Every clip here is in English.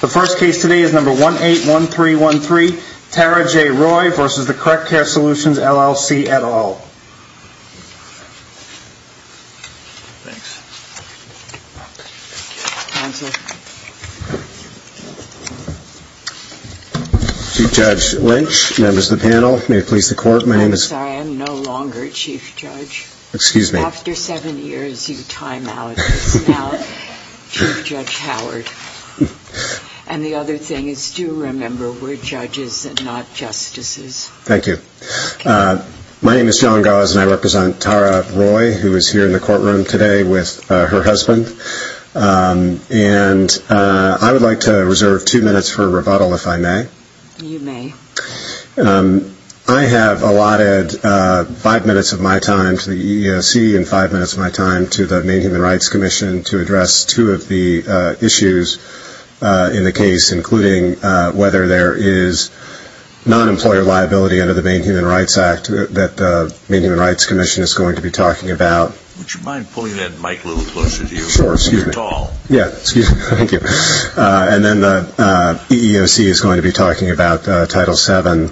The first case today is number 181313, Tara J. Roy v. Correct Care Solutions, LLC et al. Chief Judge Lynch, members of the panel, may it please the Court, my name is I'm sorry, I'm no longer Chief Judge. Excuse me. After seven years you time out as now Chief Judge Howard. And the other thing is do remember we're judges and not justices. Thank you. My name is John Gause and I represent Tara Roy, who is here in the courtroom today with her husband. And I would like to reserve two minutes for rebuttal, if I may. You may. I have allotted five minutes of my time to the EEOC and five minutes of my time to the Maine Human Rights Commission to address two of the issues in the case, including whether there is non-employer liability under the Maine Human Rights Act that the Maine Human Rights Commission is going to be talking about. Would you mind pulling that mic a little closer to you? Sure. It's tall. Yeah. Excuse me. Thank you. And then the EEOC is going to be talking about Title VII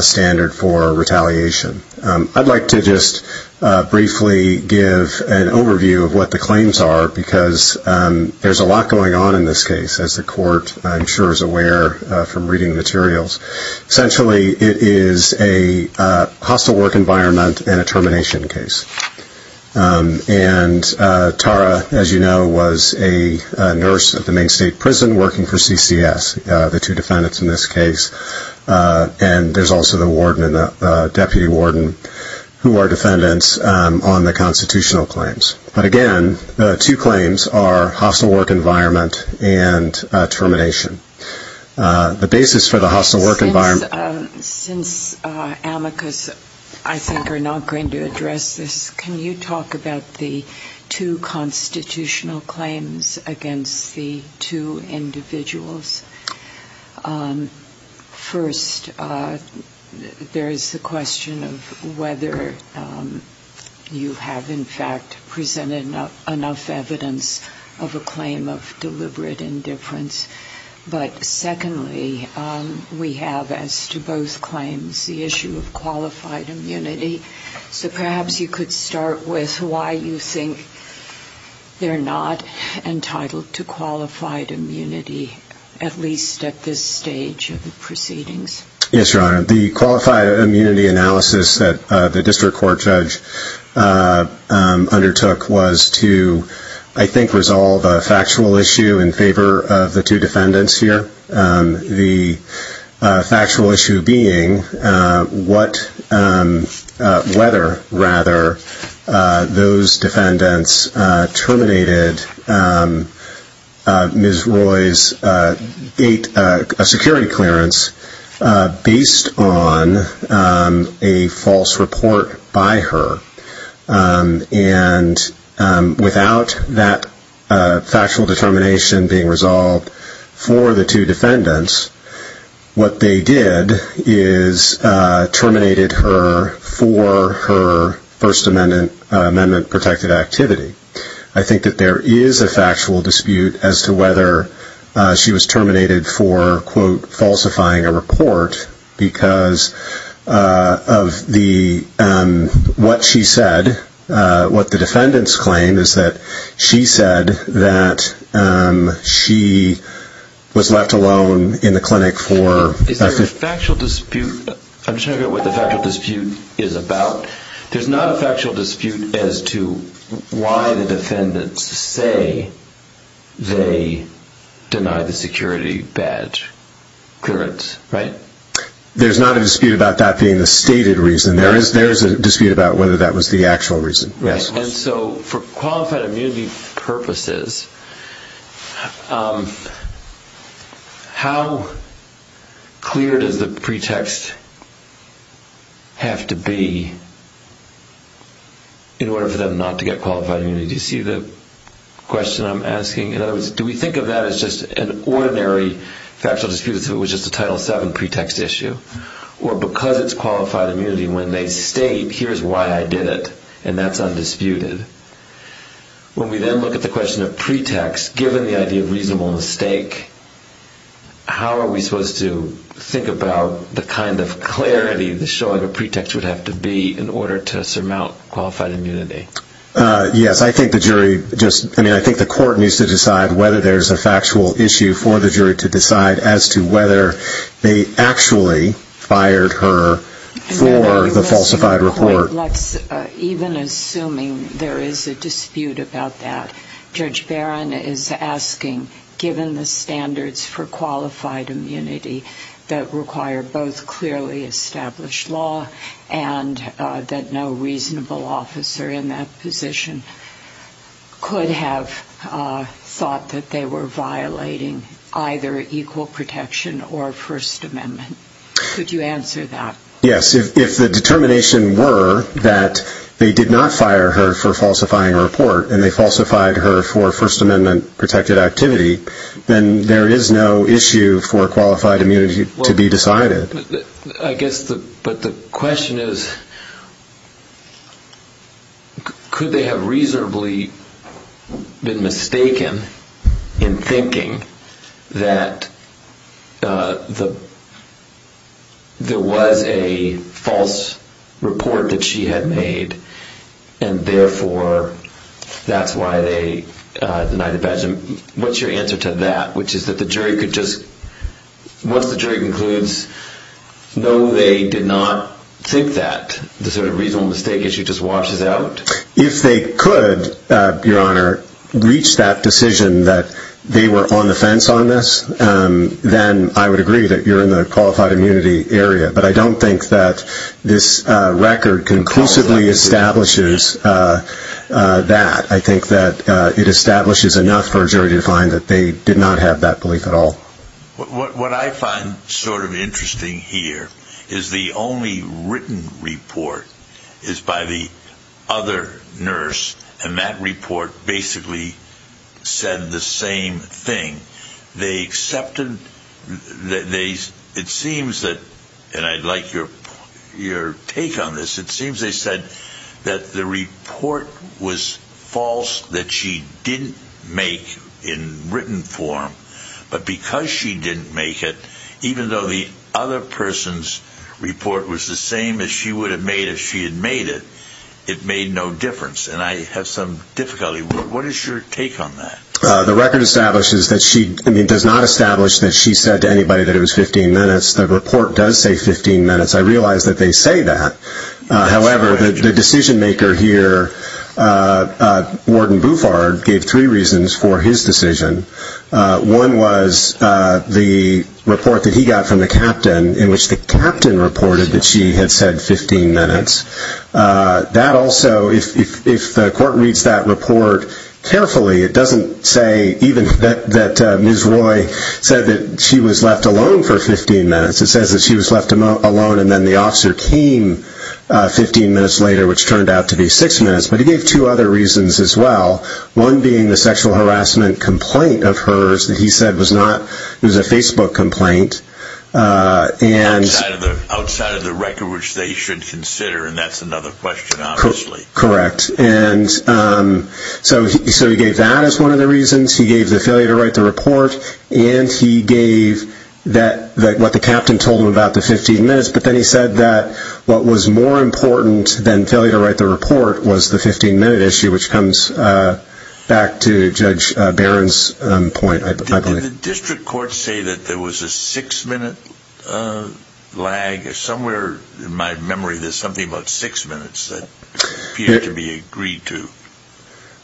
standard for retaliation. I'd like to just briefly give an overview of what the claims are because there's a lot going on in this case, as the Court I'm sure is aware from reading materials. Essentially it is a hostile work environment and a termination case. And Tara, as you know, was a nurse at the Maine State Prison working for CCS, the two defendants in this case. And there's also the warden and the deputy warden who are defendants on the constitutional claims. But, again, the two claims are hostile work environment and termination. The basis for the hostile work environment. Since amicus, I think, are not going to address this, can you talk about the two constitutional claims against the two individuals? First, there is the question of whether you have, in fact, presented enough evidence of a claim of deliberate indifference. But, secondly, we have as to both claims the issue of qualified immunity. So perhaps you could start with why you think they're not entitled to qualified immunity, at least at this stage of the proceedings. Yes, Your Honor. The qualified immunity analysis that the district court judge undertook was to, I think, resolve a factual issue in favor of the two defendants here. The factual issue being whether, rather, those defendants terminated Ms. Roy's security clearance based on a false report by her. And without that factual determination being resolved for the two defendants, what they did is terminated her for her First Amendment protected activity. I think that there is a factual dispute as to whether she was terminated for, quote, falsifying a report because of what she said. What the defendants claim is that she said that she was left alone in the clinic for... Is there a factual dispute? I'm just trying to figure out what the factual dispute is about. There's not a factual dispute as to why the defendants say they deny the security badge clearance, right? There's not a dispute about that being the stated reason. There is a dispute about whether that was the actual reason, yes. And so for qualified immunity purposes, how clear does the pretext have to be in order for them not to get qualified immunity? Do you see the question I'm asking? In other words, do we think of that as just an ordinary factual dispute as if it was just a Title VII pretext issue? Or because it's qualified immunity, when they state, here's why I did it, and that's undisputed. When we then look at the question of pretext, given the idea of reasonable mistake, how are we supposed to think about the kind of clarity the show of a pretext would have to be in order to surmount qualified immunity? Yes, I think the jury just, I mean, I think the court needs to decide whether there's a factual issue for the jury to decide as to whether they actually fired her for the falsified report. Let's, even assuming there is a dispute about that, Judge Barron is asking, given the standards for qualified immunity that require both clearly established law and that no reasonable officer in that position could have thought that they were violating either equal protection or First Amendment, could you answer that? Yes, if the determination were that they did not fire her for falsifying a report and they falsified her for First Amendment protected activity, then there is no issue for qualified immunity to be decided. I guess, but the question is, could they have reasonably been mistaken in thinking that there was a false report that she had made and therefore that's why they denied the badge? What's your answer to that, which is that the jury could just, once the jury concludes, no, they did not think that the sort of reasonable mistake issue just washes out? If they could, Your Honor, reach that decision that they were on the fence on this, then I would agree that you're in the qualified immunity area. But I don't think that this record conclusively establishes that. I think that it establishes enough for a jury to find that they did not have that belief at all. What I find sort of interesting here is the only written report is by the other nurse, and that report basically said the same thing. It seems that, and I'd like your take on this, it seems they said that the report was false, that she didn't make in written form. But because she didn't make it, even though the other person's report was the same as she would have made if she had made it, it made no difference, and I have some difficulty. What is your take on that? The record does not establish that she said to anybody that it was 15 minutes. The report does say 15 minutes. I realize that they say that. However, the decision-maker here, Warden Bouffard, gave three reasons for his decision. One was the report that he got from the captain in which the captain reported that she had said 15 minutes. That also, if the court reads that report carefully, it doesn't say even that Ms. Roy said that she was left alone for 15 minutes. It says that she was left alone and then the officer came 15 minutes later, which turned out to be six minutes. But he gave two other reasons as well. One being the sexual harassment complaint of hers that he said was a Facebook complaint. Outside of the record, which they should consider, and that's another question, obviously. Correct. So he gave that as one of the reasons. He gave the failure to write the report, and he gave what the captain told him about the 15 minutes. But then he said that what was more important than failure to write the report was the 15-minute issue, which comes back to Judge Barron's point, I believe. Did the district court say that there was a six-minute lag? Somewhere in my memory, there's something about six minutes that appeared to be agreed to.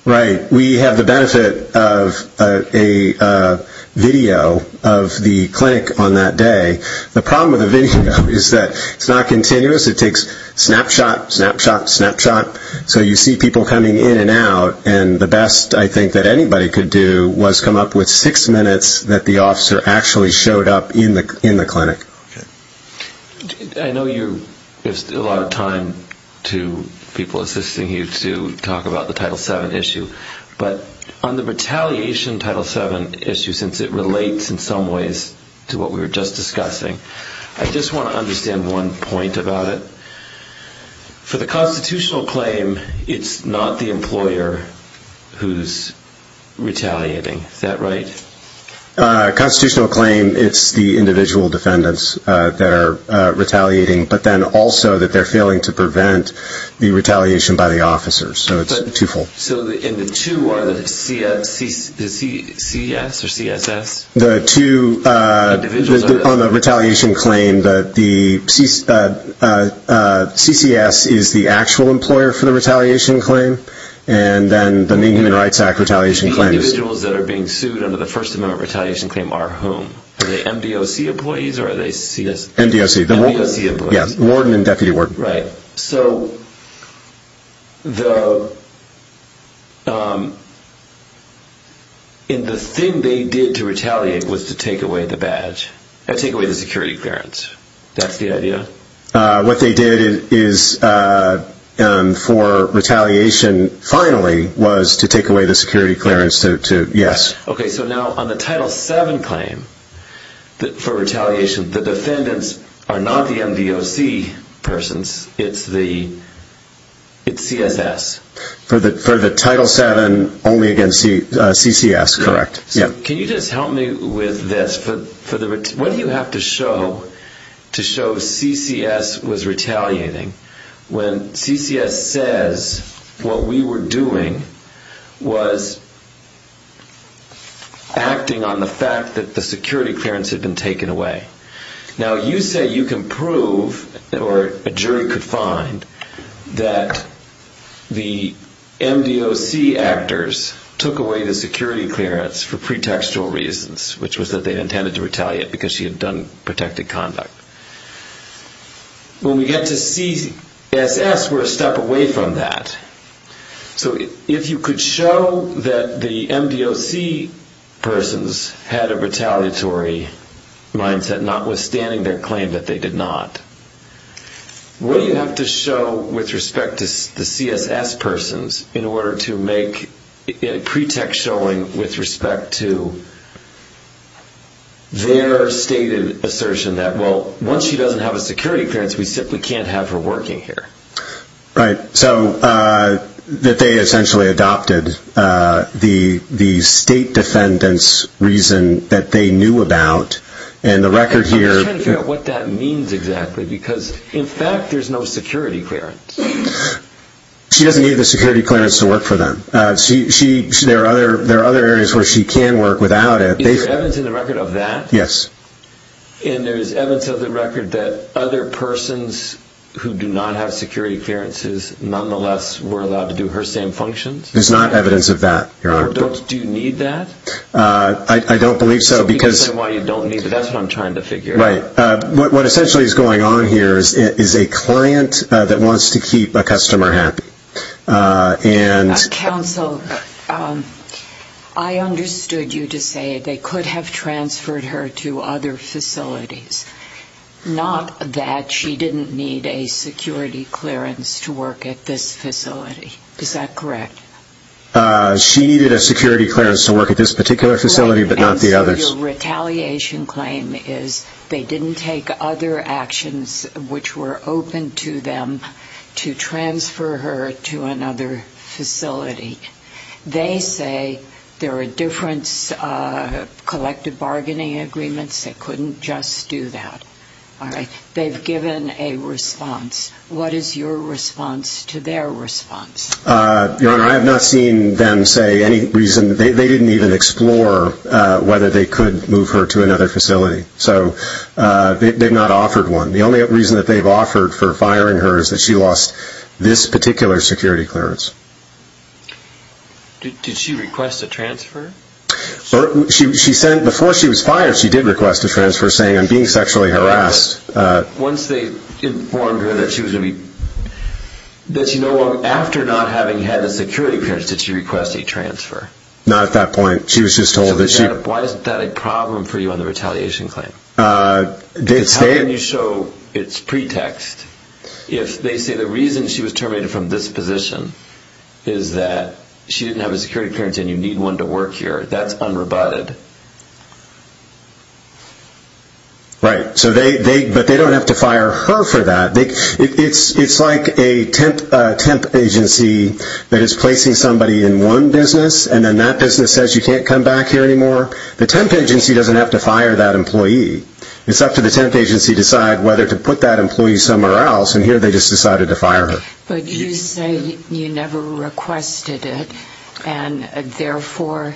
Right. We have the benefit of a video of the clinic on that day. The problem with the video is that it's not continuous. It takes snapshot, snapshot, snapshot. So you see people coming in and out, and the best I think that anybody could do was come up with six minutes that the officer actually showed up in the clinic. Okay. I know you give a lot of time to people assisting you to talk about the Title VII issue, but on the retaliation Title VII issue, since it relates in some ways to what we were just discussing, I just want to understand one point about it. For the constitutional claim, it's not the employer who's retaliating. Is that right? Constitutional claim, it's the individual defendants that are retaliating, but then also that they're failing to prevent the retaliation by the officers. So it's twofold. So in the two, are the CCS or CSS? The two on the retaliation claim, the CCS is the actual employer for the retaliation claim, and then the Main Human Rights Act retaliation claim is. The individuals that are being sued under the First Amendment retaliation claim are whom? Are they MDOC employees or are they CS? MDOC. MDOC employees. Yeah, warden and deputy warden. Right. So the thing they did to retaliate was to take away the badge, take away the security clearance. That's the idea? What they did for retaliation finally was to take away the security clearance, yes. Okay, so now on the Title VII claim for retaliation, the defendants are not the MDOC persons, it's CSS. For the Title VII only against CCS, correct. Can you just help me with this? What do you have to show to show CCS was retaliating when CCS says what we were doing was acting on the fact that the security clearance had been taken away? Now, you say you can prove, or a jury could find, that the MDOC actors took away the security clearance for pretextual reasons, which was that they intended to retaliate because she had done protected conduct. When we get to CSS, we're a step away from that. So if you could show that the MDOC persons had a retaliatory mindset, notwithstanding their claim that they did not, what do you have to show with respect to the CSS persons in order to make a pretext showing with respect to their stated assertion that, well, once she doesn't have a security clearance, we simply can't have her working here? Right. So that they essentially adopted the state defendant's reason that they knew about. I'm just trying to figure out what that means exactly, because in fact there's no security clearance. She doesn't need the security clearance to work for them. There are other areas where she can work without it. Is there evidence in the record of that? Yes. And there is evidence of the record that other persons who do not have security clearances nonetheless were allowed to do her same functions? There's not evidence of that, Your Honor. Do you need that? I don't believe so. That's what I'm trying to figure out. Right. What essentially is going on here is a client that wants to keep a customer happy. Counsel, I understood you to say they could have transferred her to other facilities, not that she didn't need a security clearance to work at this facility. Is that correct? She needed a security clearance to work at this particular facility but not the others. So your retaliation claim is they didn't take other actions which were open to them to transfer her to another facility. They say there are different collective bargaining agreements that couldn't just do that. All right. They've given a response. What is your response to their response? Your Honor, I have not seen them say any reason. They didn't even explore whether they could move her to another facility. So they've not offered one. The only reason that they've offered for firing her is that she lost this particular security clearance. Did she request a transfer? Before she was fired, she did request a transfer saying, I'm being sexually harassed. Once they informed her that she was going to be, after not having had a security clearance, did she request a transfer? Not at that point. She was just told that she... Why isn't that a problem for you on the retaliation claim? How can you show it's pretext? If they say the reason she was terminated from this position is that she didn't have a security clearance and you need one to work here, that's unrebutted. Right. But they don't have to fire her for that. It's like a temp agency that is placing somebody in one business and then that business says you can't come back here anymore. The temp agency doesn't have to fire that employee. It's up to the temp agency to decide whether to put that employee somewhere else, and here they just decided to fire her. But you say you never requested it, and therefore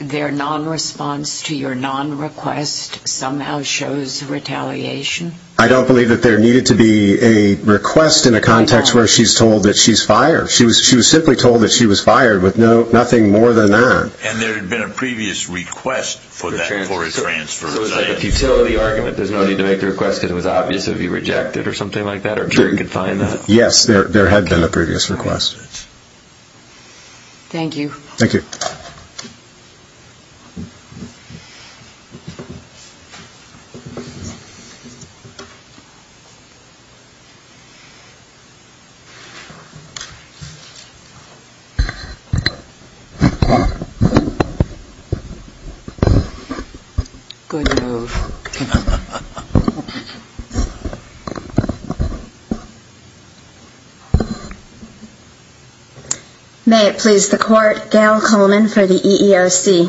their nonresponse to your nonrequest somehow shows retaliation? I don't believe that there needed to be a request in a context where she's told that she's fired. She was simply told that she was fired with nothing more than that. And there had been a previous request for a transfer. So it was like a futility argument. There's no need to make the request because it was obvious it would be rejected or something like that, or jury could find that. Yes, there had been a previous request. Thank you. Thank you. Good move. May it please the Court, Gail Coleman for the EERC.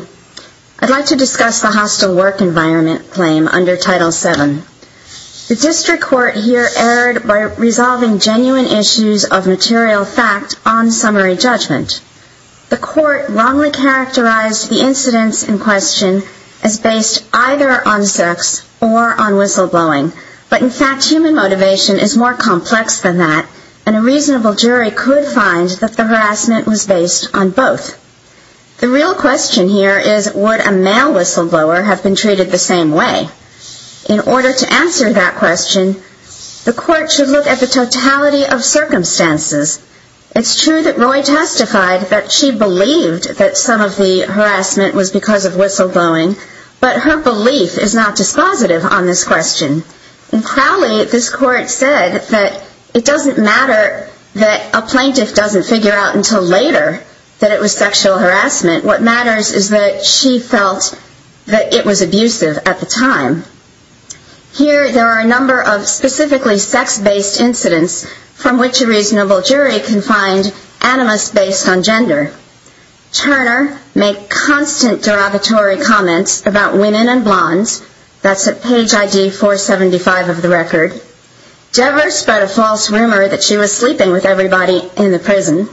I'd like to discuss the hostile work environment claim under Title VII. The district court here erred by resolving genuine issues of material fact on summary judgment. The court wrongly characterized the incidents in question as based either on sex or on whistleblowing, but in fact human motivation is more complex than that, and a reasonable jury could find that the harassment was based on both. The real question here is would a male whistleblower have been treated the same way? In order to answer that question, the court should look at the totality of circumstances. It's true that Roy testified that she believed that some of the harassment was because of whistleblowing, but her belief is not dispositive on this question. In Crowley, this court said that it doesn't matter that a plaintiff doesn't figure out until later that it was sexual harassment. What matters is that she felt that it was abusive at the time. Here there are a number of specifically sex-based incidents from which a reasonable jury can find animus based on gender. Turner made constant derogatory comments about women and blondes. That's at page ID 475 of the record. Dever spread a false rumor that she was sleeping with everybody in the prison.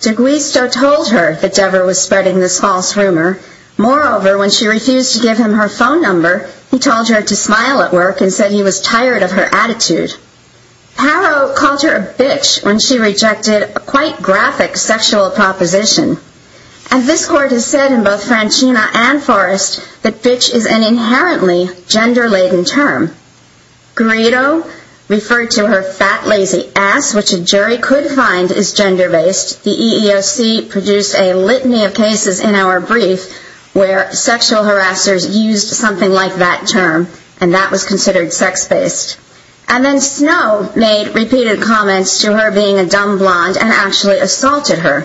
D'Aguisto told her that Dever was spreading this false rumor. Moreover, when she refused to give him her phone number, he told her to smile at work and said he was tired of her attitude. Harrow called her a bitch when she rejected a quite graphic sexual proposition. And this court has said in both Francina and Forrest that bitch is an inherently gender-laden term. Grito referred to her fat, lazy ass, which a jury could find is gender-based. The EEOC produced a litany of cases in our brief where sexual harassers used something like that term. And that was considered sex-based. And then Snow made repeated comments to her being a dumb blonde and actually assaulted her.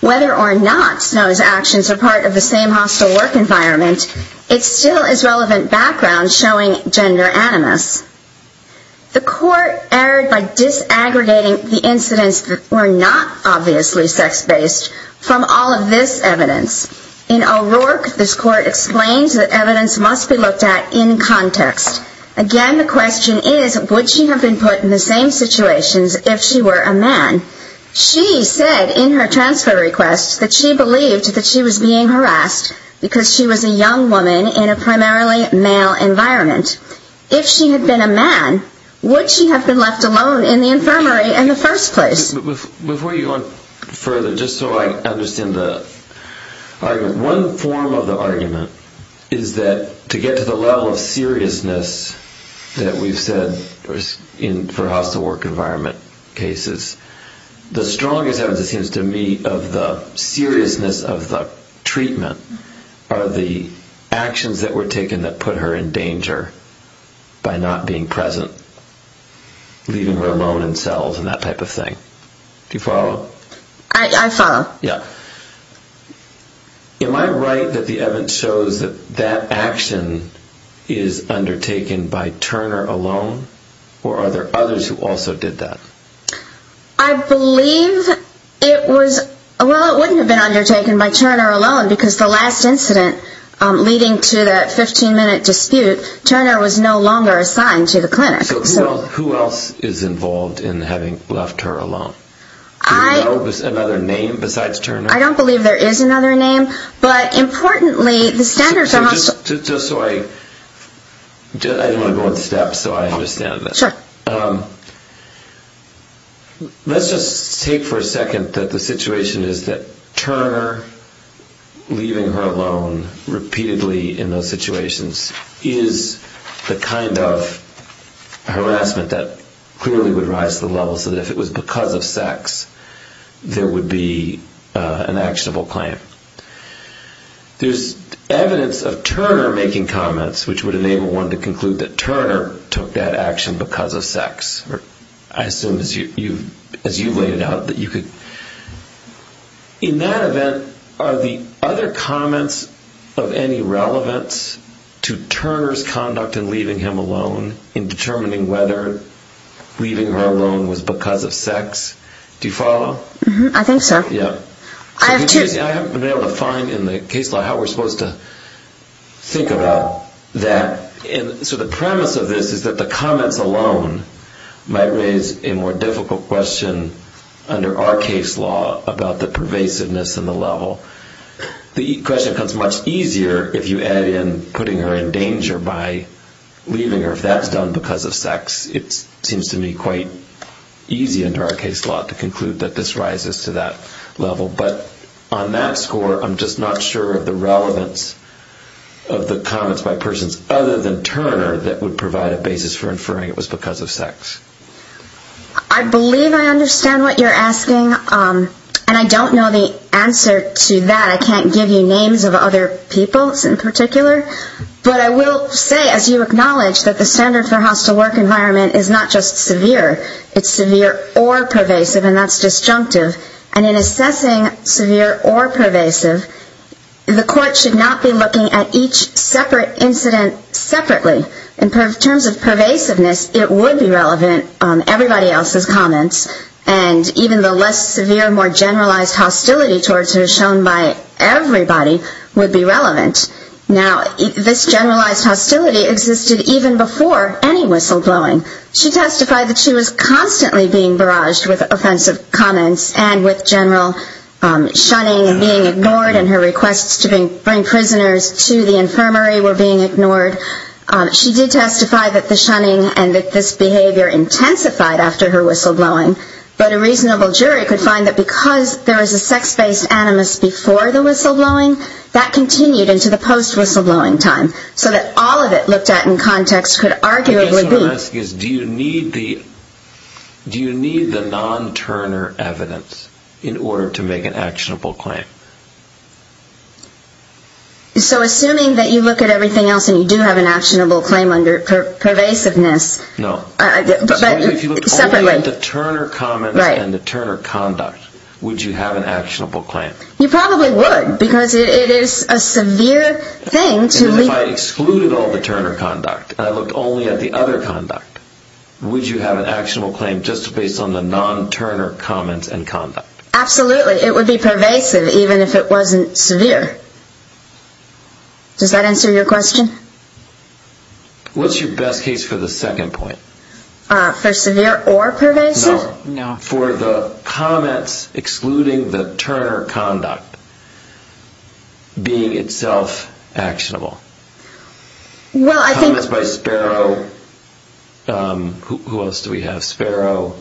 Whether or not Snow's actions are part of the same hostile work environment, it still is relevant background showing gender animus. The court erred by disaggregating the incidents that were not obviously sex-based from all of this evidence. In O'Rourke, this court explains that evidence must be looked at in context. Again, the question is, would she have been put in the same situations if she were a man? She said in her transfer request that she believed that she was being harassed because she was a young woman in a primarily male environment. If she had been a man, would she have been left alone in the infirmary in the first place? Before you go on further, just so I understand the argument, one form of the argument is that to get to the level of seriousness that we've said for hostile work environment cases, the strongest evidence, it seems to me, of the seriousness of the treatment are the actions that were taken that put her in danger by not being present, leaving her alone in cells and that type of thing. Do you follow? I follow. Yeah. Am I right that the evidence shows that that action is undertaken by Turner alone? Or are there others who also did that? I believe it was, well, it wouldn't have been undertaken by Turner alone because the last incident leading to that 15-minute dispute, Turner was no longer assigned to the clinic. So who else is involved in having left her alone? Do you know of another name besides Turner? I don't believe there is another name. But importantly, the standards are hostile. Just so I, I don't want to go in steps so I understand this. Sure. Let's just take for a second that the situation is that Turner leaving her alone repeatedly in those situations is the kind of harassment that clearly would rise to the level so that if it was because of sex, there would be an actionable claim. There's evidence of Turner making comments which would enable one to conclude that Turner took that action because of sex. I assume as you've laid it out that you could. In that event, are the other comments of any relevance to Turner's conduct in leaving him alone in determining whether leaving her alone was because of sex? Do you follow? I think so. Yeah. I haven't been able to find in the case law how we're supposed to think about that. And so the premise of this is that the comments alone might raise a more difficult question under our case law about the pervasiveness and the level. The question becomes much easier if you add in putting her in danger by leaving her. If that's done because of sex, it seems to me quite easy under our case law to conclude that this rises to that level. But on that score, I'm just not sure of the relevance of the comments by persons other than Turner that would provide a basis for inferring it was because of sex. I believe I understand what you're asking. And I don't know the answer to that. I can't give you names of other people in particular. But I will say, as you acknowledge, that the standard for hostile work environment is not just severe. It's severe or pervasive, and that's disjunctive. And in assessing severe or pervasive, the court should not be looking at each separate incident separately. In terms of pervasiveness, it would be relevant on everybody else's comments. And even the less severe, more generalized hostility towards her shown by everybody would be relevant. Now, this generalized hostility existed even before any whistleblowing. She testified that she was constantly being barraged with offensive comments and with general shunning and being ignored and her requests to bring prisoners to the infirmary were being ignored. She did testify that the shunning and that this behavior intensified after her whistleblowing. But a reasonable jury could find that because there was a sex-based animus before the whistleblowing, that continued into the post-whistleblowing time. So that all of it looked at in context could arguably be... I guess what I'm asking is, do you need the non-Turner evidence in order to make an actionable claim? So assuming that you look at everything else and you do have an actionable claim under pervasiveness... But separately... So if you looked only at the Turner comments and the Turner conduct, would you have an actionable claim? You probably would, because it is a severe thing to leave... If I excluded all the Turner conduct and I looked only at the other conduct, would you have an actionable claim just based on the non-Turner comments and conduct? Absolutely. It would be pervasive even if it wasn't severe. Does that answer your question? What's your best case for the second point? For severe or pervasive? No. For the comments excluding the Turner conduct being itself actionable? Well, I think... Comments by Sparrow... Who else do we have? Sparrow...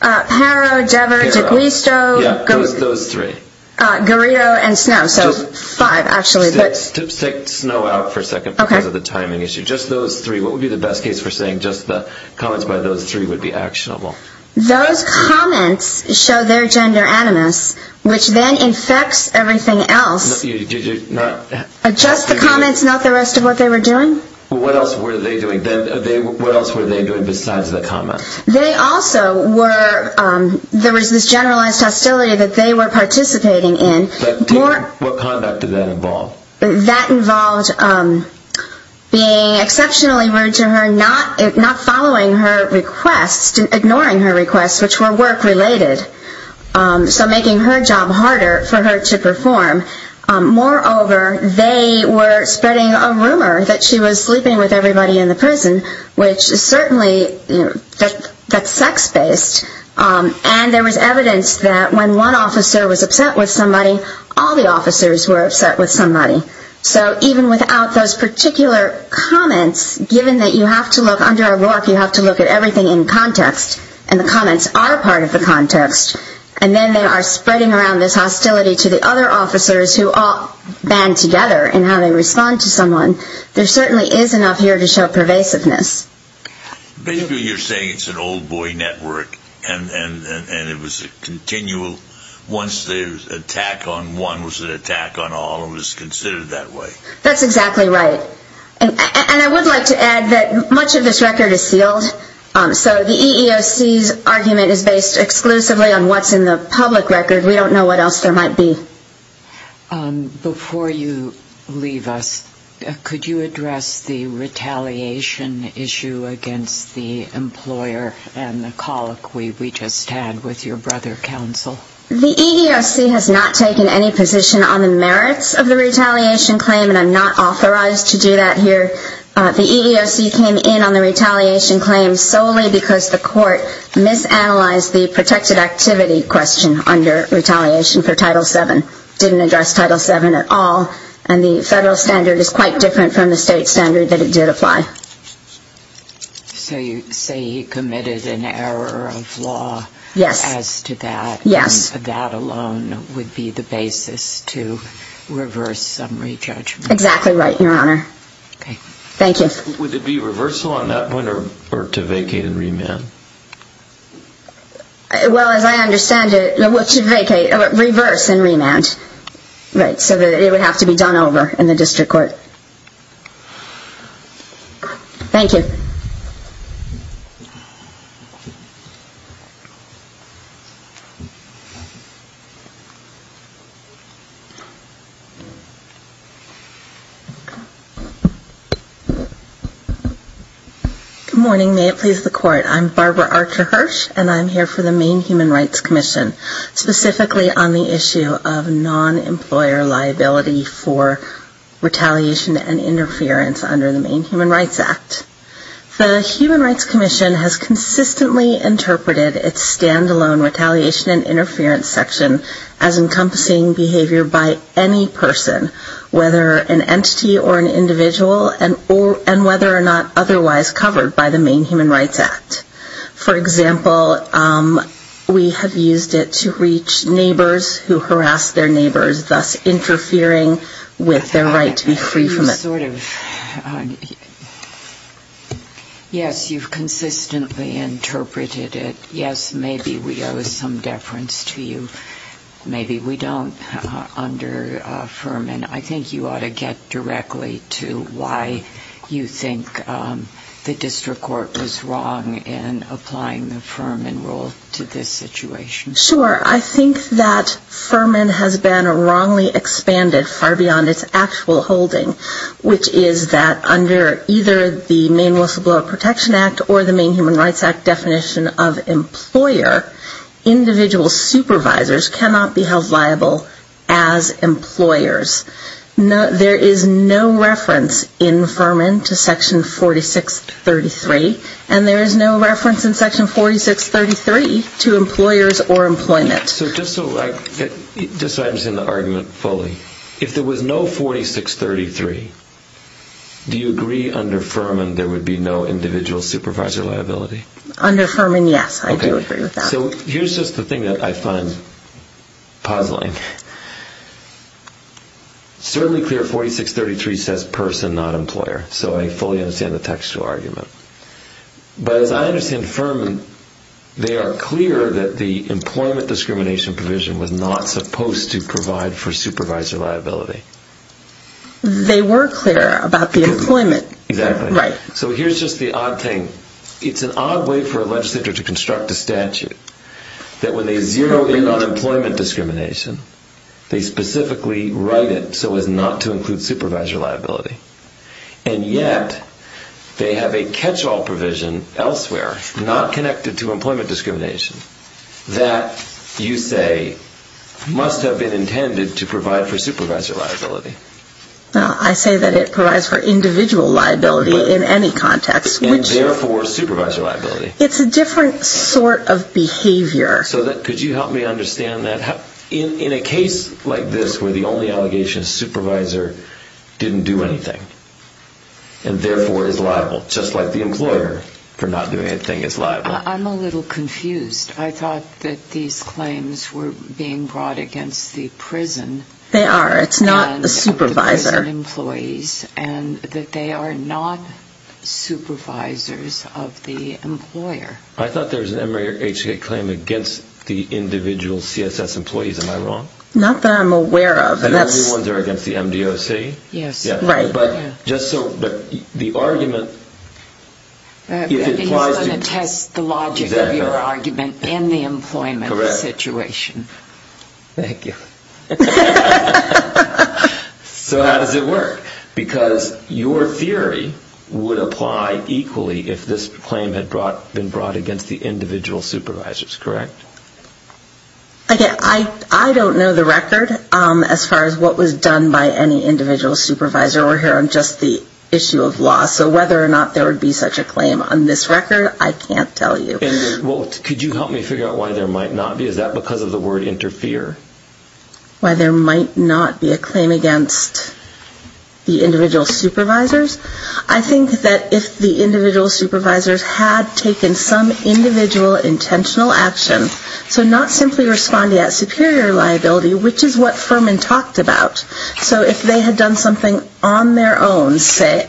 Harrow, Dever, D'Aquisto... Those three. Garrido and Snow. So five, actually. Let's take Snow out for a second because of the timing issue. Just those three. What would be the best case for saying just the comments by those three would be actionable? Those comments show their gender animus, which then infects everything else. Did you not... Just the comments, not the rest of what they were doing? What else were they doing? What else were they doing besides the comments? They also were... There was this generalized hostility that they were participating in. What conduct did that involve? That involved being exceptionally rude to her, not following her requests, ignoring her requests, which were work-related. So making her job harder for her to perform. Moreover, they were spreading a rumor that she was sleeping with everybody in the prison, which is certainly... That's sex-based. And there was evidence that when one officer was upset with somebody, all the officers were upset with somebody. So even without those particular comments, given that you have to look... Under a RORC, you have to look at everything in context. And the comments are part of the context. And then they are spreading around this hostility to the other officers who all band together in how they respond to someone. There certainly is enough here to show pervasiveness. Basically, you're saying it's an old-boy network, and it was a continual... Once the attack on one was an attack on all, it was considered that way. That's exactly right. And I would like to add that much of this record is sealed. So the EEOC's argument is based exclusively on what's in the public record. We don't know what else there might be. Before you leave us, could you address the retaliation issue against the employer and the colloquy we just had with your brother, counsel? The EEOC has not taken any position on the merits of the retaliation claim, and I'm not authorized to do that here. The EEOC came in on the retaliation claim solely because the court misanalyzed the protected activity question under retaliation for Title VII. It didn't address Title VII at all, and the federal standard is quite different from the state standard that it did apply. So you say he committed an error of law as to that. Yes. And that alone would be the basis to reverse some re-judgment. Exactly right, Your Honor. Okay. Thank you. Would it be reversal on that one, or to vacate and remand? Well, as I understand it, to vacate, reverse and remand, right, so that it would have to be done over in the district court. Thank you. Good morning. May it please the Court. I'm Barbara Archer-Hirsch, and I'm here for the Maine Human Rights Commission, specifically on the issue of non-employer liability for retaliation and interference under the Maine Human Rights Act. The Human Rights Commission has consistently interpreted its stand-alone retaliation and interference section as encompassing behavior by any person, whether an entity or an individual, and whether or not otherwise covered by the Maine Human Rights Act. For example, we have used it to reach neighbors who harass their neighbors, thus interfering with their right to be free from it. Yes, you've consistently interpreted it. Yes, maybe we owe some deference to you. Maybe we don't. I think you ought to get directly to why you think the district court was wrong in applying the Furman rule to this situation. Sure. I think that Furman has been wrongly expanded far beyond its actual holding, which is that under either the Maine Whistleblower Protection Act or the Maine Human Rights Act definition of employer, individual supervisors cannot be held liable as employers. There is no reference in Furman to section 4633, and there is no reference in section 4633 to employers or employment. Just so I understand the argument fully, if there was no 4633, do you agree under Furman there would be no individual supervisor liability? So here's just the thing that I find puzzling. It's certainly clear 4633 says person, not employer, so I fully understand the textual argument. But as I understand Furman, they are clear that the employment discrimination provision was not supposed to provide for supervisor liability. They were clear about the employment. Exactly. Right. So here's just the odd thing. It's an odd way for a legislature to construct a statute that when they zero in on employment discrimination, they specifically write it so as not to include supervisor liability. And yet they have a catch-all provision elsewhere, not connected to employment discrimination, that you say must have been intended to provide for supervisor liability. I say that it provides for individual liability in any context. And therefore supervisor liability. It's a different sort of behavior. Could you help me understand that? In a case like this where the only allegation is supervisor didn't do anything and therefore is liable, just like the employer for not doing anything is liable. I'm a little confused. I thought that these claims were being brought against the prison. They are. It's not a supervisor. And that they are not supervisors of the employer. I thought there was an MRE or HCA claim against the individual CSS employees. Am I wrong? Not that I'm aware of. And only ones that are against the MDOC? Yes. Right. But just so the argument. He's going to test the logic of your argument in the employment situation. Correct. Thank you. So how does it work? Because your theory would apply equally if this claim had been brought against the individual supervisors. Correct? I don't know the record as far as what was done by any individual supervisor. We're here on just the issue of law. So whether or not there would be such a claim on this record, I can't tell you. Could you help me figure out why there might not be? Is that because of the word interfere? Why there might not be a claim against the individual supervisors? I think that if the individual supervisors had taken some individual intentional action, so not simply responding at superior liability, which is what Furman talked about. So if they had done something on their own, say,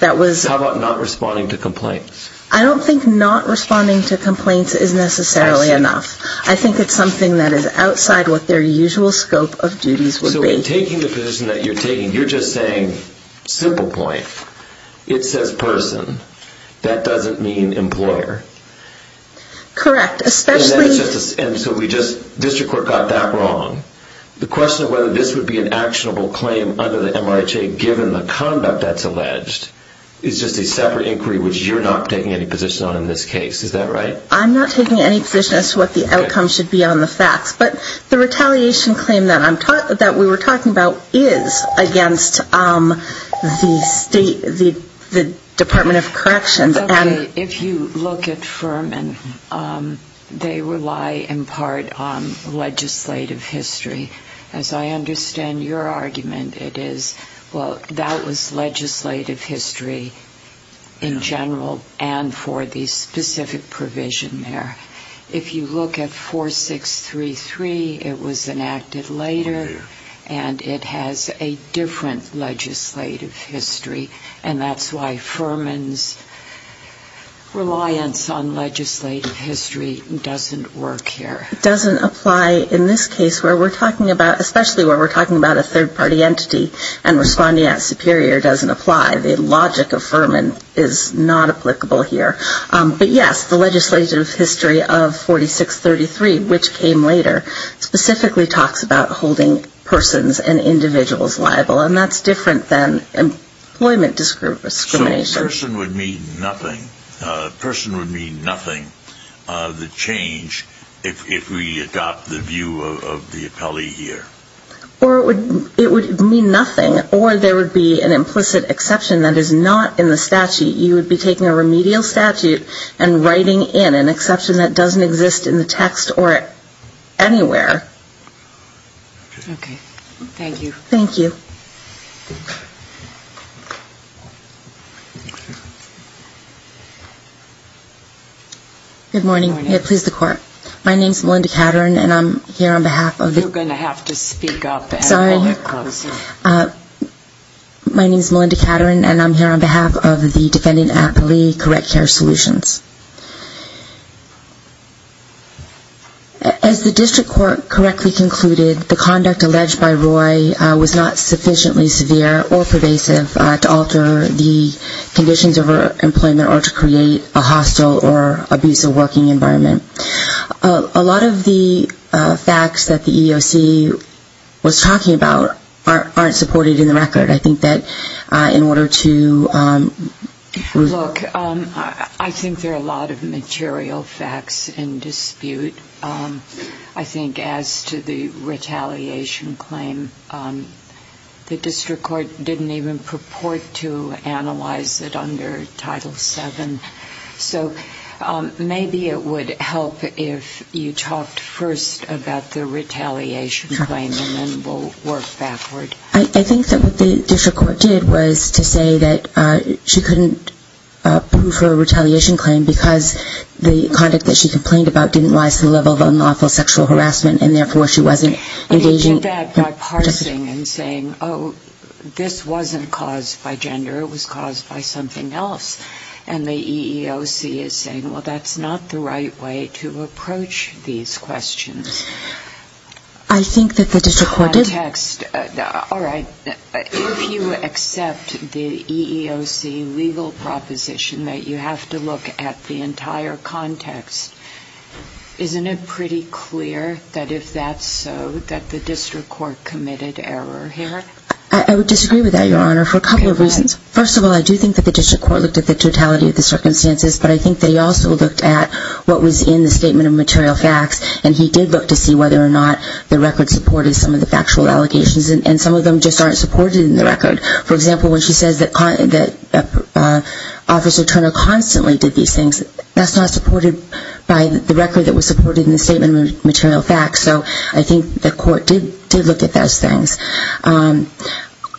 that was... How about not responding to complaints? I don't think not responding to complaints is necessarily enough. I see. It's something that is outside what their usual scope of duties would be. So in taking the position that you're taking, you're just saying simple point. It says person. That doesn't mean employer. Correct. Especially... And so we just... District Court got that wrong. The question of whether this would be an actionable claim under the MRHA, given the conduct that's alleged, is just a separate inquiry, which you're not taking any position on in this case. Is that right? I'm not taking any position as to what the outcome should be on the facts. But the retaliation claim that we were talking about is against the State, the Department of Corrections. If you look at Furman, they rely in part on legislative history. As I understand your argument, it is, well, that was legislative history in general and for the specific provision there. If you look at 4633, it was enacted later, and it has a different legislative history, and that's why Furman's reliance on legislative history doesn't work here. It doesn't apply in this case, where we're talking about, especially where we're talking about a third-party entity, and responding as superior doesn't apply. The logic of Furman is not applicable here. But, yes, the legislative history of 4633, which came later, specifically talks about holding persons and individuals liable, and that's different than employment discrimination. So a person would mean nothing. A person would mean nothing, the change, if we adopt the view of the appellee here. Or it would mean nothing, or there would be an implicit exception that is not in the statute. You would be taking a remedial statute and writing in an exception that doesn't exist in the text or anywhere. Okay. Thank you. Thank you. Good morning. Good morning. Please, the Court. My name is Melinda Caterin, and I'm here on behalf of the You're going to have to speak up. Sorry. My name is Melinda Caterin, and I'm here on behalf of the defendant appellee correct care solutions. As the district court correctly concluded, the conduct alleged by Roy was not sufficiently severe or pervasive to alter the conditions of her employment or to create a hostile or abusive working environment. A lot of the facts that the EEOC was talking about aren't supported in the record. I think that in order to Look, I think there are a lot of material facts in dispute. I think as to the retaliation claim, the district court didn't even purport to analyze it under Title VII. So maybe it would help if you talked first about the retaliation claim, and then we'll work backward. I think that what the district court did was to say that she couldn't prove her retaliation claim because the conduct that she complained about didn't rise to the level of unlawful sexual harassment, and therefore she wasn't engaging I think that by parsing and saying, oh, this wasn't caused by gender. It was caused by something else, and the EEOC is saying, well, that's not the right way to approach these questions. I think that the district court did All right. If you accept the EEOC legal proposition that you have to look at the entire context, isn't it pretty clear that if that's so, that the district court committed error here? I would disagree with that, Your Honor, for a couple of reasons. Okay, go ahead. First of all, I do think that the district court looked at the totality of the circumstances, but I think they also looked at what was in the statement of material facts, and he did look to see whether or not the record supported some of the factual allegations, and some of them just aren't supported in the record. For example, when she says that Officer Turner constantly did these things, that's not supported by the record that was supported in the statement of material facts, so I think the court did look at those things.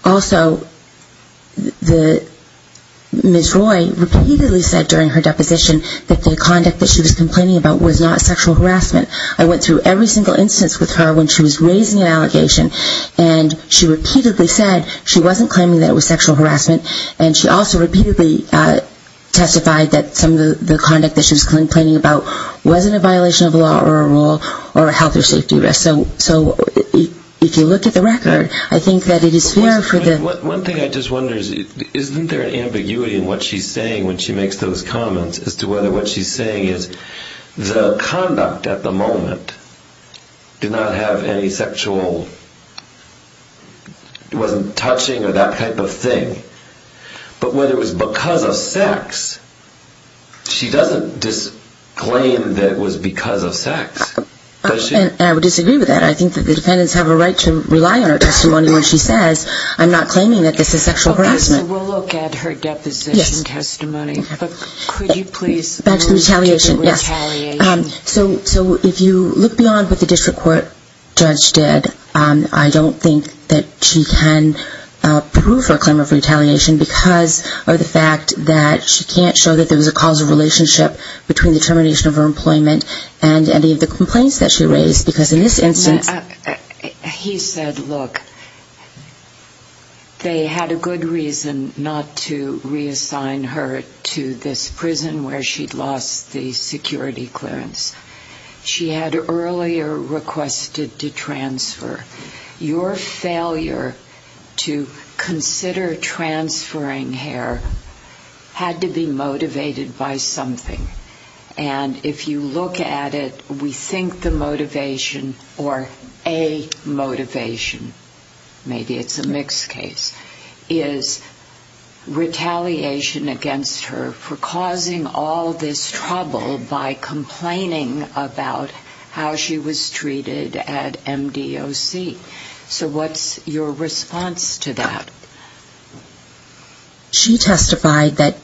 Also, Ms. Roy repeatedly said during her deposition that the conduct that she was complaining about was not sexual harassment. I went through every single instance with her when she was raising an allegation, and she repeatedly said she wasn't claiming that it was sexual harassment, and she also repeatedly testified that some of the conduct that she was complaining about wasn't a violation of law or a rule or a health or safety risk. So if you look at the record, I think that it is fair for the... One thing I just wonder is isn't there an ambiguity in what she's saying when she makes those comments as to whether what she's saying is the conduct at the moment did not have any sexual, wasn't touching or that type of thing, but whether it was because of sex, she doesn't disclaim that it was because of sex. And I would disagree with that. I think that the defendants have a right to rely on her testimony when she says, I'm not claiming that this is sexual harassment. Okay, so we'll look at her deposition testimony, but could you please... Back to the retaliation, yes. So if you look beyond what the district court judge did, I don't think that she can prove her claim of retaliation because of the fact that she can't show that there was a causal relationship between the termination of her employment and any of the complaints that she raised, because in this instance... He said, look, they had a good reason not to reassign her to this prison where she'd lost the security clearance. She had earlier requested to transfer. Your failure to consider transferring her had to be motivated by something. And if you look at it, we think the motivation or a motivation, maybe it's a mixed case, is retaliation against her for causing all this trouble by complaining about how she was treated at MDOC. So what's your response to that? She testified that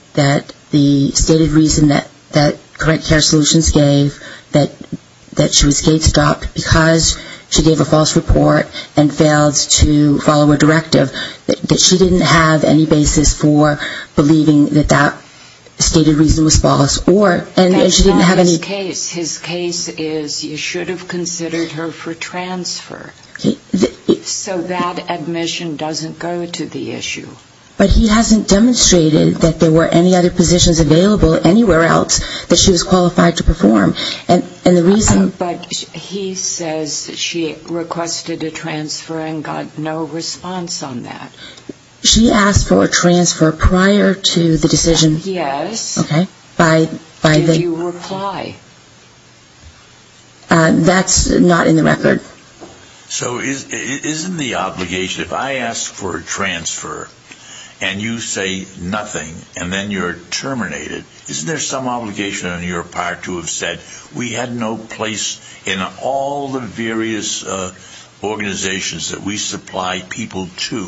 the stated reason that Correct Care Solutions gave, that she was gate-stopped because she gave a false report and failed to follow a directive, that she didn't have any basis for believing that that stated reason was false. And she didn't have any... His case is you should have considered her for transfer. So that admission doesn't go to the issue. But he hasn't demonstrated that there were any other positions available anywhere else that she was qualified to perform. But he says she requested a transfer and got no response on that. She asked for a transfer prior to the decision. Yes. Okay. Did you reply? That's not in the record. So isn't the obligation, if I ask for a transfer and you say nothing and then you're terminated, isn't there some obligation on your part to have said, we had no place in all the various organizations that we supply people to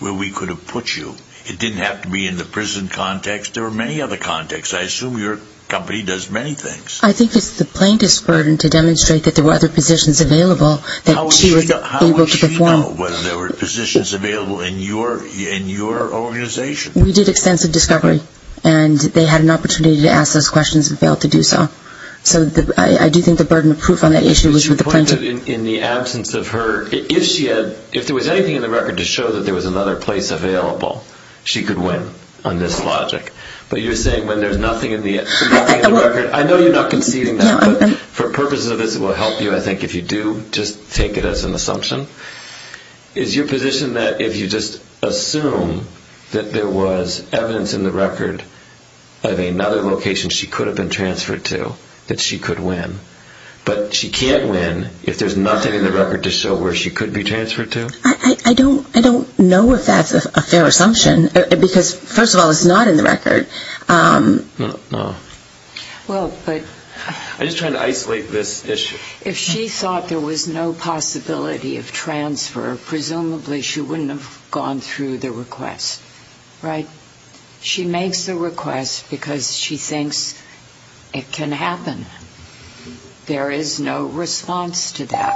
where we could have put you? It didn't have to be in the prison context. There were many other contexts. I assume your company does many things. I think it's the plaintiff's burden to demonstrate that there were other positions available that she was able to perform. How would she know whether there were positions available in your organization? We did extensive discovery, and they had an opportunity to ask those questions and failed to do so. So I do think the burden of proof on that issue was with the plaintiff. She pointed in the absence of her, if there was anything in the record to show that there was another place available, she could win on this logic. But you're saying when there's nothing in the record, I know you're not conceding that, but for purposes of this it will help you, I think, if you do just take it as an assumption. Is your position that if you just assume that there was evidence in the record of another location she could have been transferred to, that she could win? But she can't win if there's nothing in the record to show where she could be transferred to? I don't know if that's a fair assumption, because, first of all, it's not in the record. No. Well, but... I'm just trying to isolate this issue. If she thought there was no possibility of transfer, presumably she wouldn't have gone through the request, right? She makes the request because she thinks it can happen. There is no response to that.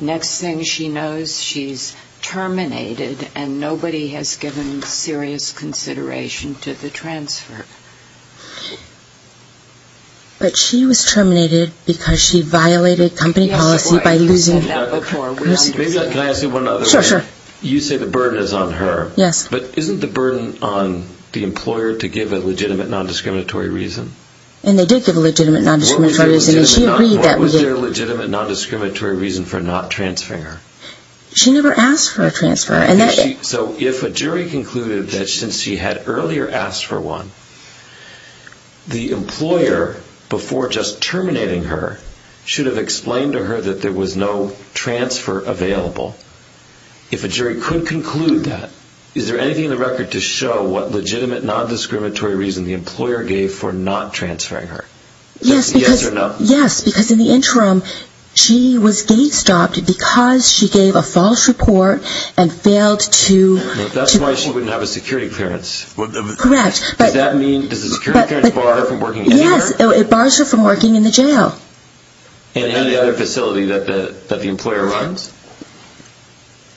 Next thing she knows, she's terminated, and nobody has given serious consideration to the transfer. But she was terminated because she violated company policy by losing... Can I ask you one other question? Sure, sure. You say the burden is on her. Yes. But isn't the burden on the employer to give a legitimate non-discriminatory reason? And they did give a legitimate non-discriminatory reason, and she agreed that... What was your legitimate non-discriminatory reason for not transferring her? She never asked for a transfer, and that... So if a jury concluded that since she had earlier asked for one, the employer, before just terminating her, should have explained to her that there was no transfer available, if a jury could conclude that, is there anything in the record to show what legitimate non-discriminatory reason the employer gave for not transferring her? Yes, because in the interim, she was gate-stopped because she gave a false report and failed to... That's why she wouldn't have a security clearance. Correct. Does that mean, does a security clearance bar her from working anywhere? Yes, it bars her from working in the jail. And any other facility that the employer runs?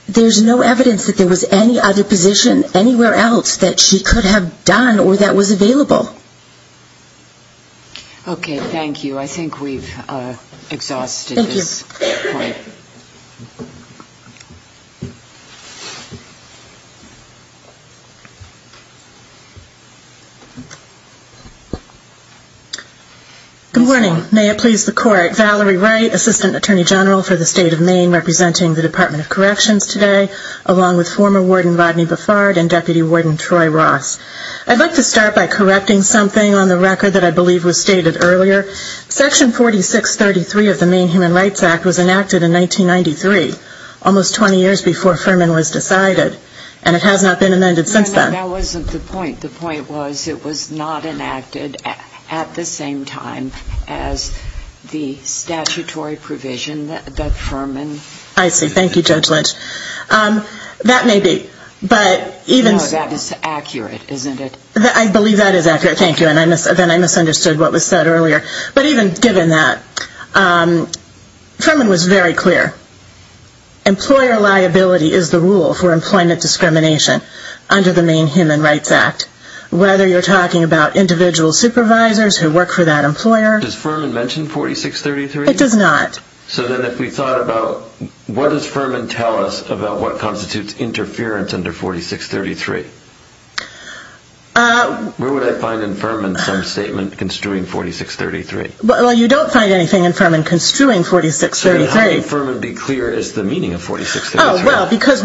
There's no evidence that there was any other position anywhere else that she could have done or that was available. Okay, thank you. I think we've exhausted this point. Thank you. Good morning. May it please the Court. Valerie Wright, Assistant Attorney General for the State of Maine, representing the Department of Corrections today, along with former Warden Rodney Buffard and Deputy Warden Troy Ross. I'd like to start by correcting something on the record that I believe was stated earlier. Section 4633 of the Maine Human Rights Act was enacted in 1993, almost 20 years before Furman was decided, and it has not been amended since then. No, no, that wasn't the point. The point was it was not enacted at the same time as the statutory provision that Furman... I see. Thank you, Judge Lynch. That may be, but even... No, that is accurate, isn't it? I believe that is accurate. Okay, thank you. Then I misunderstood what was said earlier. But even given that, Furman was very clear. Employer liability is the rule for employment discrimination under the Maine Human Rights Act, whether you're talking about individual supervisors who work for that employer... Does Furman mention 4633? It does not. So then if we thought about what does Furman tell us about what constitutes interference under 4633? Where would I find in Furman some statement construing 4633? Well, you don't find anything in Furman construing 4633. So then how can Furman be clear as to the meaning of 4633? Oh, well, because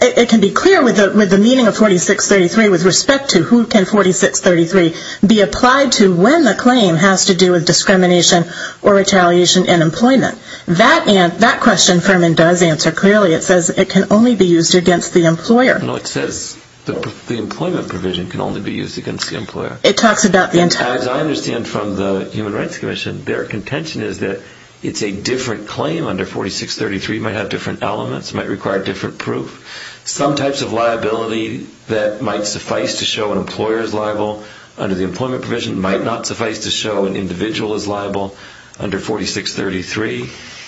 it can be clear with the meaning of 4633 with respect to who can 4633 be applied to when the claim has to do with discrimination or retaliation in employment. That question Furman does answer clearly. It says it can only be used against the employer. No, it says the employment provision can only be used against the employer. It talks about the entire... As I understand from the Human Rights Commission, their contention is that it's a different claim under 4633. It might have different elements. It might require different proof. Some types of liability that might suffice to show an employer is liable under the employment provision might not suffice to show an individual is liable under 4633,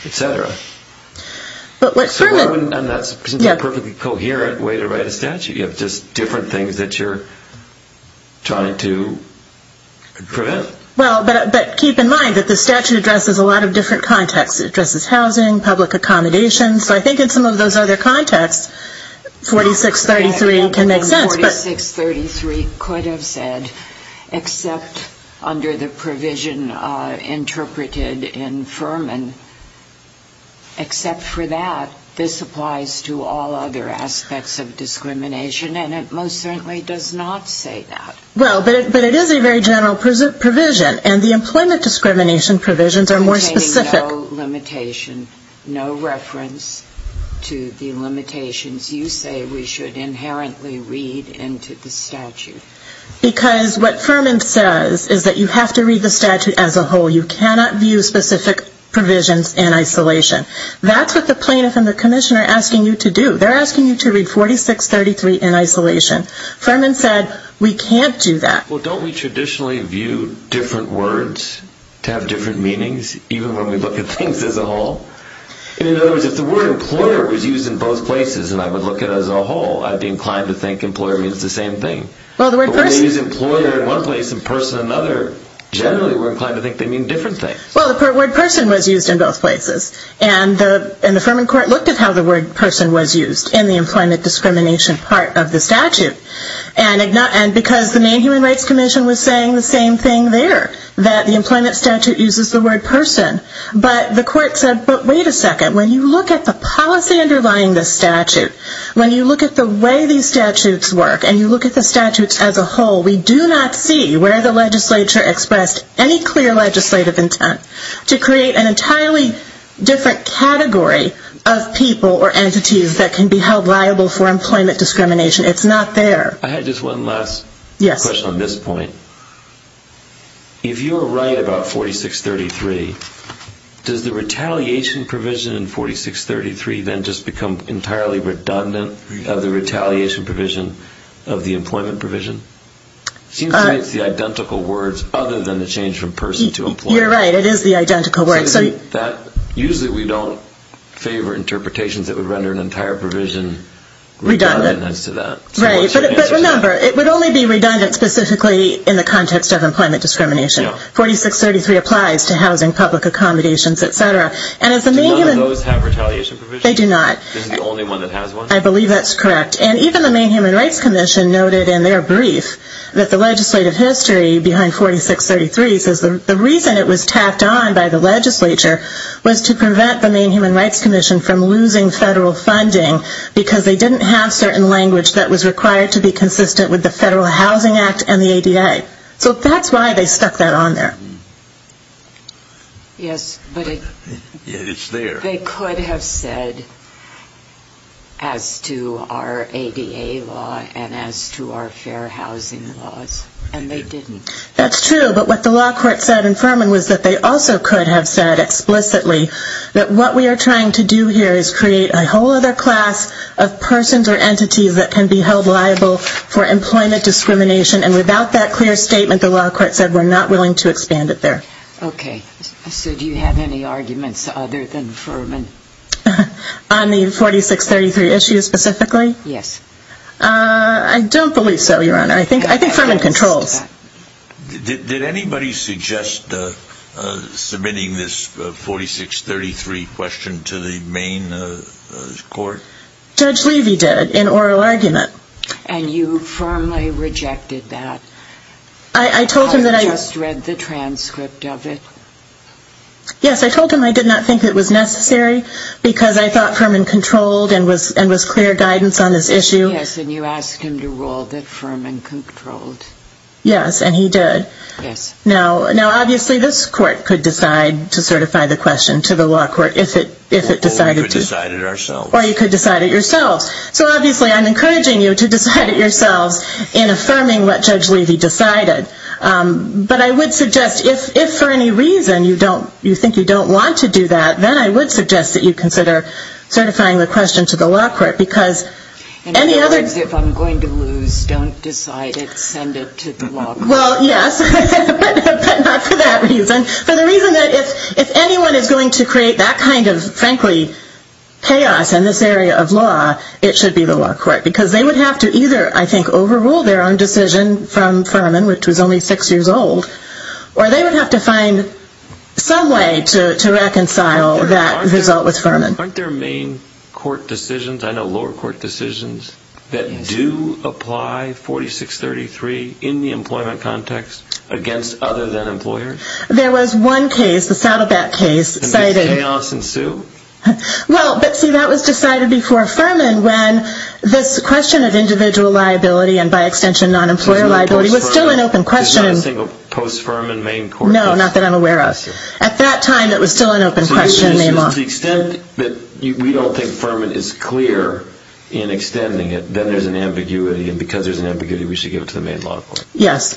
etc. But what Furman... And that's a perfectly coherent way to write a statute. You have just different things that you're trying to prevent. Well, but keep in mind that the statute addresses a lot of different contexts. It addresses housing, public accommodations. So I think in some of those other contexts, 4633 can make sense. 4633 could have said, except under the provision interpreted in Furman. Except for that, this applies to all other aspects of discrimination, and it most certainly does not say that. Well, but it is a very general provision, and the employment discrimination provisions are more specific. Containing no limitation, no reference to the limitations you say we should inherently read into the statute. Because what Furman says is that you have to read the statute as a whole. You cannot view specific provisions in isolation. That's what the plaintiff and the commissioner are asking you to do. They're asking you to read 4633 in isolation. Furman said, we can't do that. Well, don't we traditionally view different words to have different meanings, even when we look at things as a whole? In other words, if the word employer was used in both places and I would look at it as a whole, I would be inclined to think employer means the same thing. But when they use employer in one place and person in another, generally we're inclined to think they mean different things. Well, the word person was used in both places, and the Furman court looked at how the word person was used in the employment discrimination part of the statute. And because the Maine Human Rights Commission was saying the same thing there, that the employment statute uses the word person. But the court said, but wait a second, when you look at the policy underlying this statute, when you look at the way these statutes work, and you look at the statutes as a whole, we do not see where the legislature expressed any clear legislative intent to create an entirely different category of people or entities that can be held liable for employment discrimination. It's not there. I had just one last question on this point. If you're right about 4633, does the retaliation provision in 4633 then just become entirely redundant of the retaliation provision of the employment provision? It seems to me it's the identical words other than the change from person to employer. You're right, it is the identical words. Usually we don't favor interpretations that would render an entire provision redundant as to that. Right, but remember, it would only be redundant specifically in the context of employment discrimination. 4633 applies to housing, public accommodations, et cetera. Do none of those have retaliation provisions? They do not. This is the only one that has one? I believe that's correct. And even the Maine Human Rights Commission noted in their brief that the legislative history behind 4633 says the reason it was tapped on by the legislature was to prevent the Maine Human Rights Commission from losing federal funding because they didn't have certain language that was required to be consistent with the Federal Housing Act and the ADA. So that's why they stuck that on there. Yes, but it... It's there. They could have said as to our ADA law and as to our fair housing laws, and they didn't. That's true, but what the law court said in Furman was that they also could have said explicitly that what we are trying to do here is create a whole other class of persons or entities that can be held liable for employment discrimination, and without that clear statement, the law court said we're not willing to expand it there. Okay, so do you have any arguments other than Furman? On the 4633 issue specifically? Yes. I don't believe so, Your Honor. I think Furman controls. Did anybody suggest submitting this 4633 question to the Maine court? Judge Levy did, in oral argument. And you firmly rejected that? I told him that I... You just read the transcript of it. Yes, I told him I did not think it was necessary because I thought Furman controlled and was clear guidance on this issue. Yes, and you asked him to rule that Furman controlled. Yes, and he did. Yes. Now obviously this court could decide to certify the question to the law court if it decided to. Or we could decide it ourselves. Or you could decide it yourselves. So obviously I'm encouraging you to decide it yourselves in affirming what Judge Levy decided. But I would suggest if for any reason you think you don't want to do that, then I would suggest that you consider certifying the question to the law court because any other... In other words, if I'm going to lose, don't decide it, send it to the law court. Well, yes, but not for that reason. For the reason that if anyone is going to create that kind of, frankly, chaos in this area of law, it should be the law court because they would have to either, I think, overrule their own decision from Furman, which was only six years old, or they would have to find some way to reconcile that result with Furman. Aren't there main court decisions, I know lower court decisions, that do apply 4633 in the employment context against other than employers? There was one case, the Saddleback case... And did chaos ensue? Well, but see, that was decided before Furman when this question of individual liability and, by extension, non-employer liability was still an open question. There's not a single post-Furman main court case? No, not that I'm aware of. At that time, it was still an open question. To the extent that we don't think Furman is clear in extending it, then there's an ambiguity, and because there's an ambiguity, we should give it to the main law court. Yes.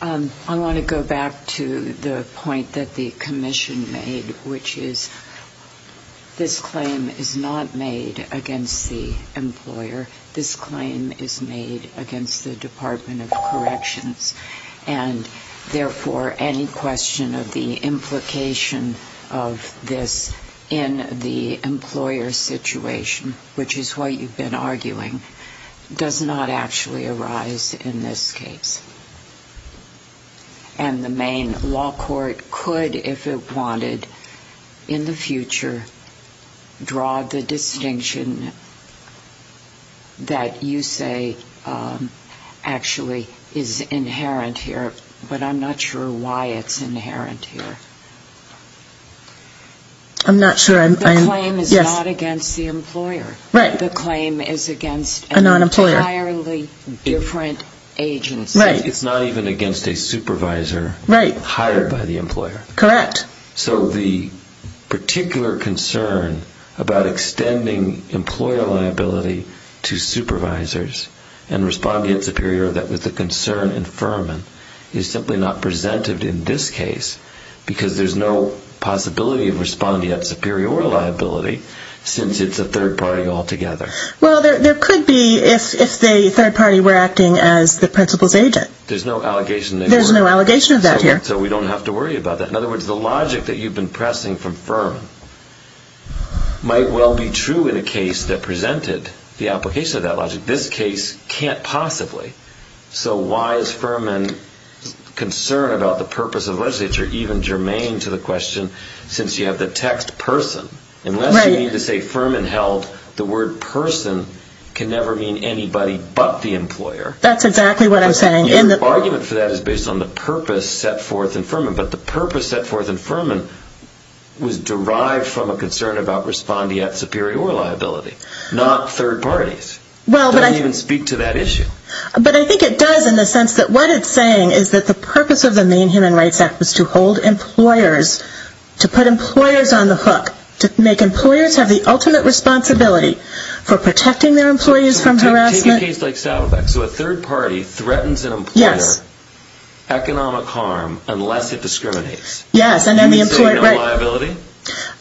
I want to go back to the point that the commission made, which is this claim is not made against the employer. This claim is made against the Department of Corrections, and, therefore, any question of the implication of this in the employer situation, which is what you've been arguing, does not actually arise in this case. And the main law court could, if it wanted, in the future draw the distinction that you say actually is inherent here, but I'm not sure why it's inherent here. I'm not sure. The claim is not against the employer. Right. The claim is against an entirely different agency. It's not even against a supervisor hired by the employer. Correct. So the particular concern about extending employer liability to supervisors and respondeat superior, that was the concern in Furman, is simply not presented in this case, because there's no possibility of respondeat superior liability since it's a third party altogether. Well, there could be, if the third party were acting as the principal's agent. There's no allegation. There's no allegation of that here. So we don't have to worry about that. In other words, the logic that you've been pressing from Furman might well be true in a case that presented the application of that logic. This case can't possibly. So why is Furman concerned about the purpose of legislature, even germane to the question, since you have the text person? Right. Unless you mean to say Furman held the word person can never mean anybody but the employer. That's exactly what I'm saying. The argument for that is based on the purpose set forth in Furman. But the purpose set forth in Furman was derived from a concern about respondeat superior liability, not third parties. It doesn't even speak to that issue. But I think it does in the sense that what it's saying is that the purpose of the Maine Human Rights Act was to hold employers, to put employers on the hook, to make employers have the ultimate responsibility for protecting their employees from harassment. Take a case like Saddleback. So a third party threatens an employer economic harm unless it discriminates. Yes, and then the employer... So no liability?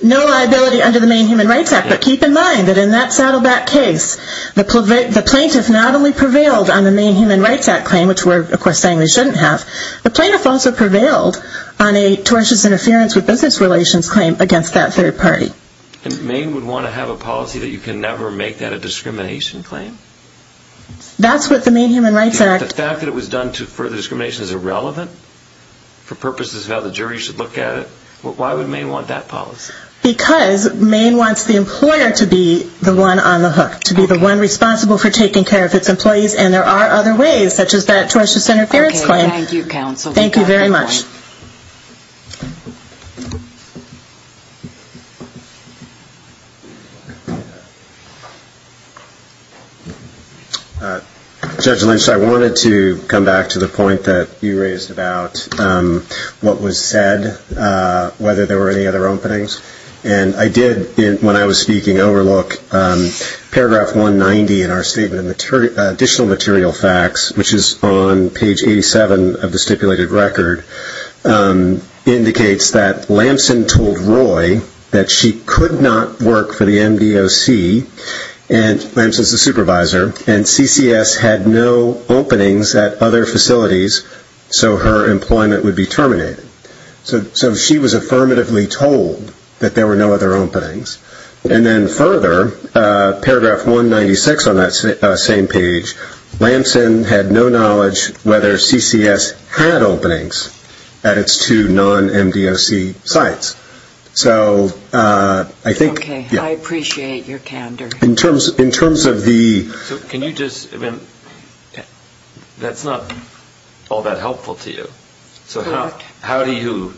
No liability under the Maine Human Rights Act. But keep in mind that in that Saddleback case, the plaintiff not only prevailed on the Maine Human Rights Act claim, which we're of course saying they shouldn't have, the plaintiff also prevailed on a tortious interference with business relations claim against that third party. And Maine would want to have a policy that you can never make that a discrimination claim? That's what the Maine Human Rights Act... The fact that it was done to further discrimination is irrelevant for purposes of how the jury should look at it? Why would Maine want that policy? Because Maine wants the employer to be the one on the hook, to be the one responsible for taking care of its employees, and there are other ways, such as that tortious interference claim. Okay, thank you, counsel. Thank you very much. Judge Lynch, I wanted to come back to the point that you raised about what was said, whether there were any other openings. And I did, when I was speaking, overlook Paragraph 190 in our Statement of Additional Material Facts, which is on page 87 of the stipulated record, indicates that Lamson told Roy that she could not work for the MDOC, and Lamson's the supervisor, and CCS had no openings at other facilities so her employment would be terminated. So she was affirmatively told that there were no other openings. And then further, Paragraph 196 on that same page, Lamson had no knowledge whether CCS had openings at its two non-MDOC sites. So I think... Okay, I appreciate your candor. In terms of the... So can you just, I mean, that's not all that helpful to you. Correct. So how do you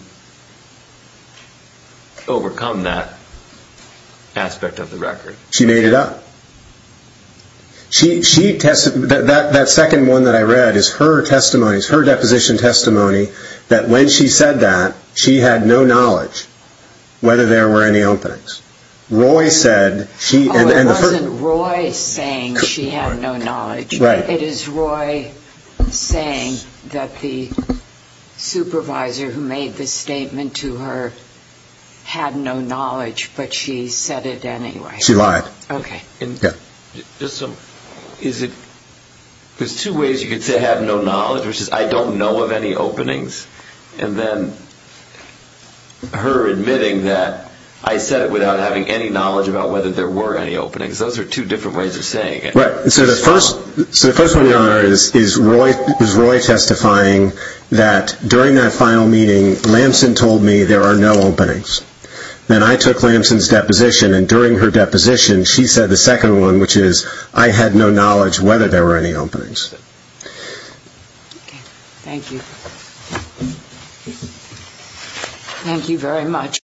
overcome that aspect of the record? She made it up. That second one that I read is her testimonies, her deposition testimony that when she said that, she had no knowledge whether there were any openings. Roy said she... Oh, it wasn't Roy saying she had no knowledge. Right. It is Roy saying that the supervisor who made the statement to her had no knowledge, but she said it anyway. She lied. Okay. There's two ways you could say I have no knowledge, which is I don't know of any openings, and then her admitting that I said it without having any knowledge about whether there were any openings. Those are two different ways of saying it. Right. So the first one is Roy testifying that during that final meeting, Lamson told me there are no openings. Then I took Lamson's deposition, and during her deposition she said the second one, which is I had no knowledge whether there were any openings. Okay. Thank you. Thank you very much.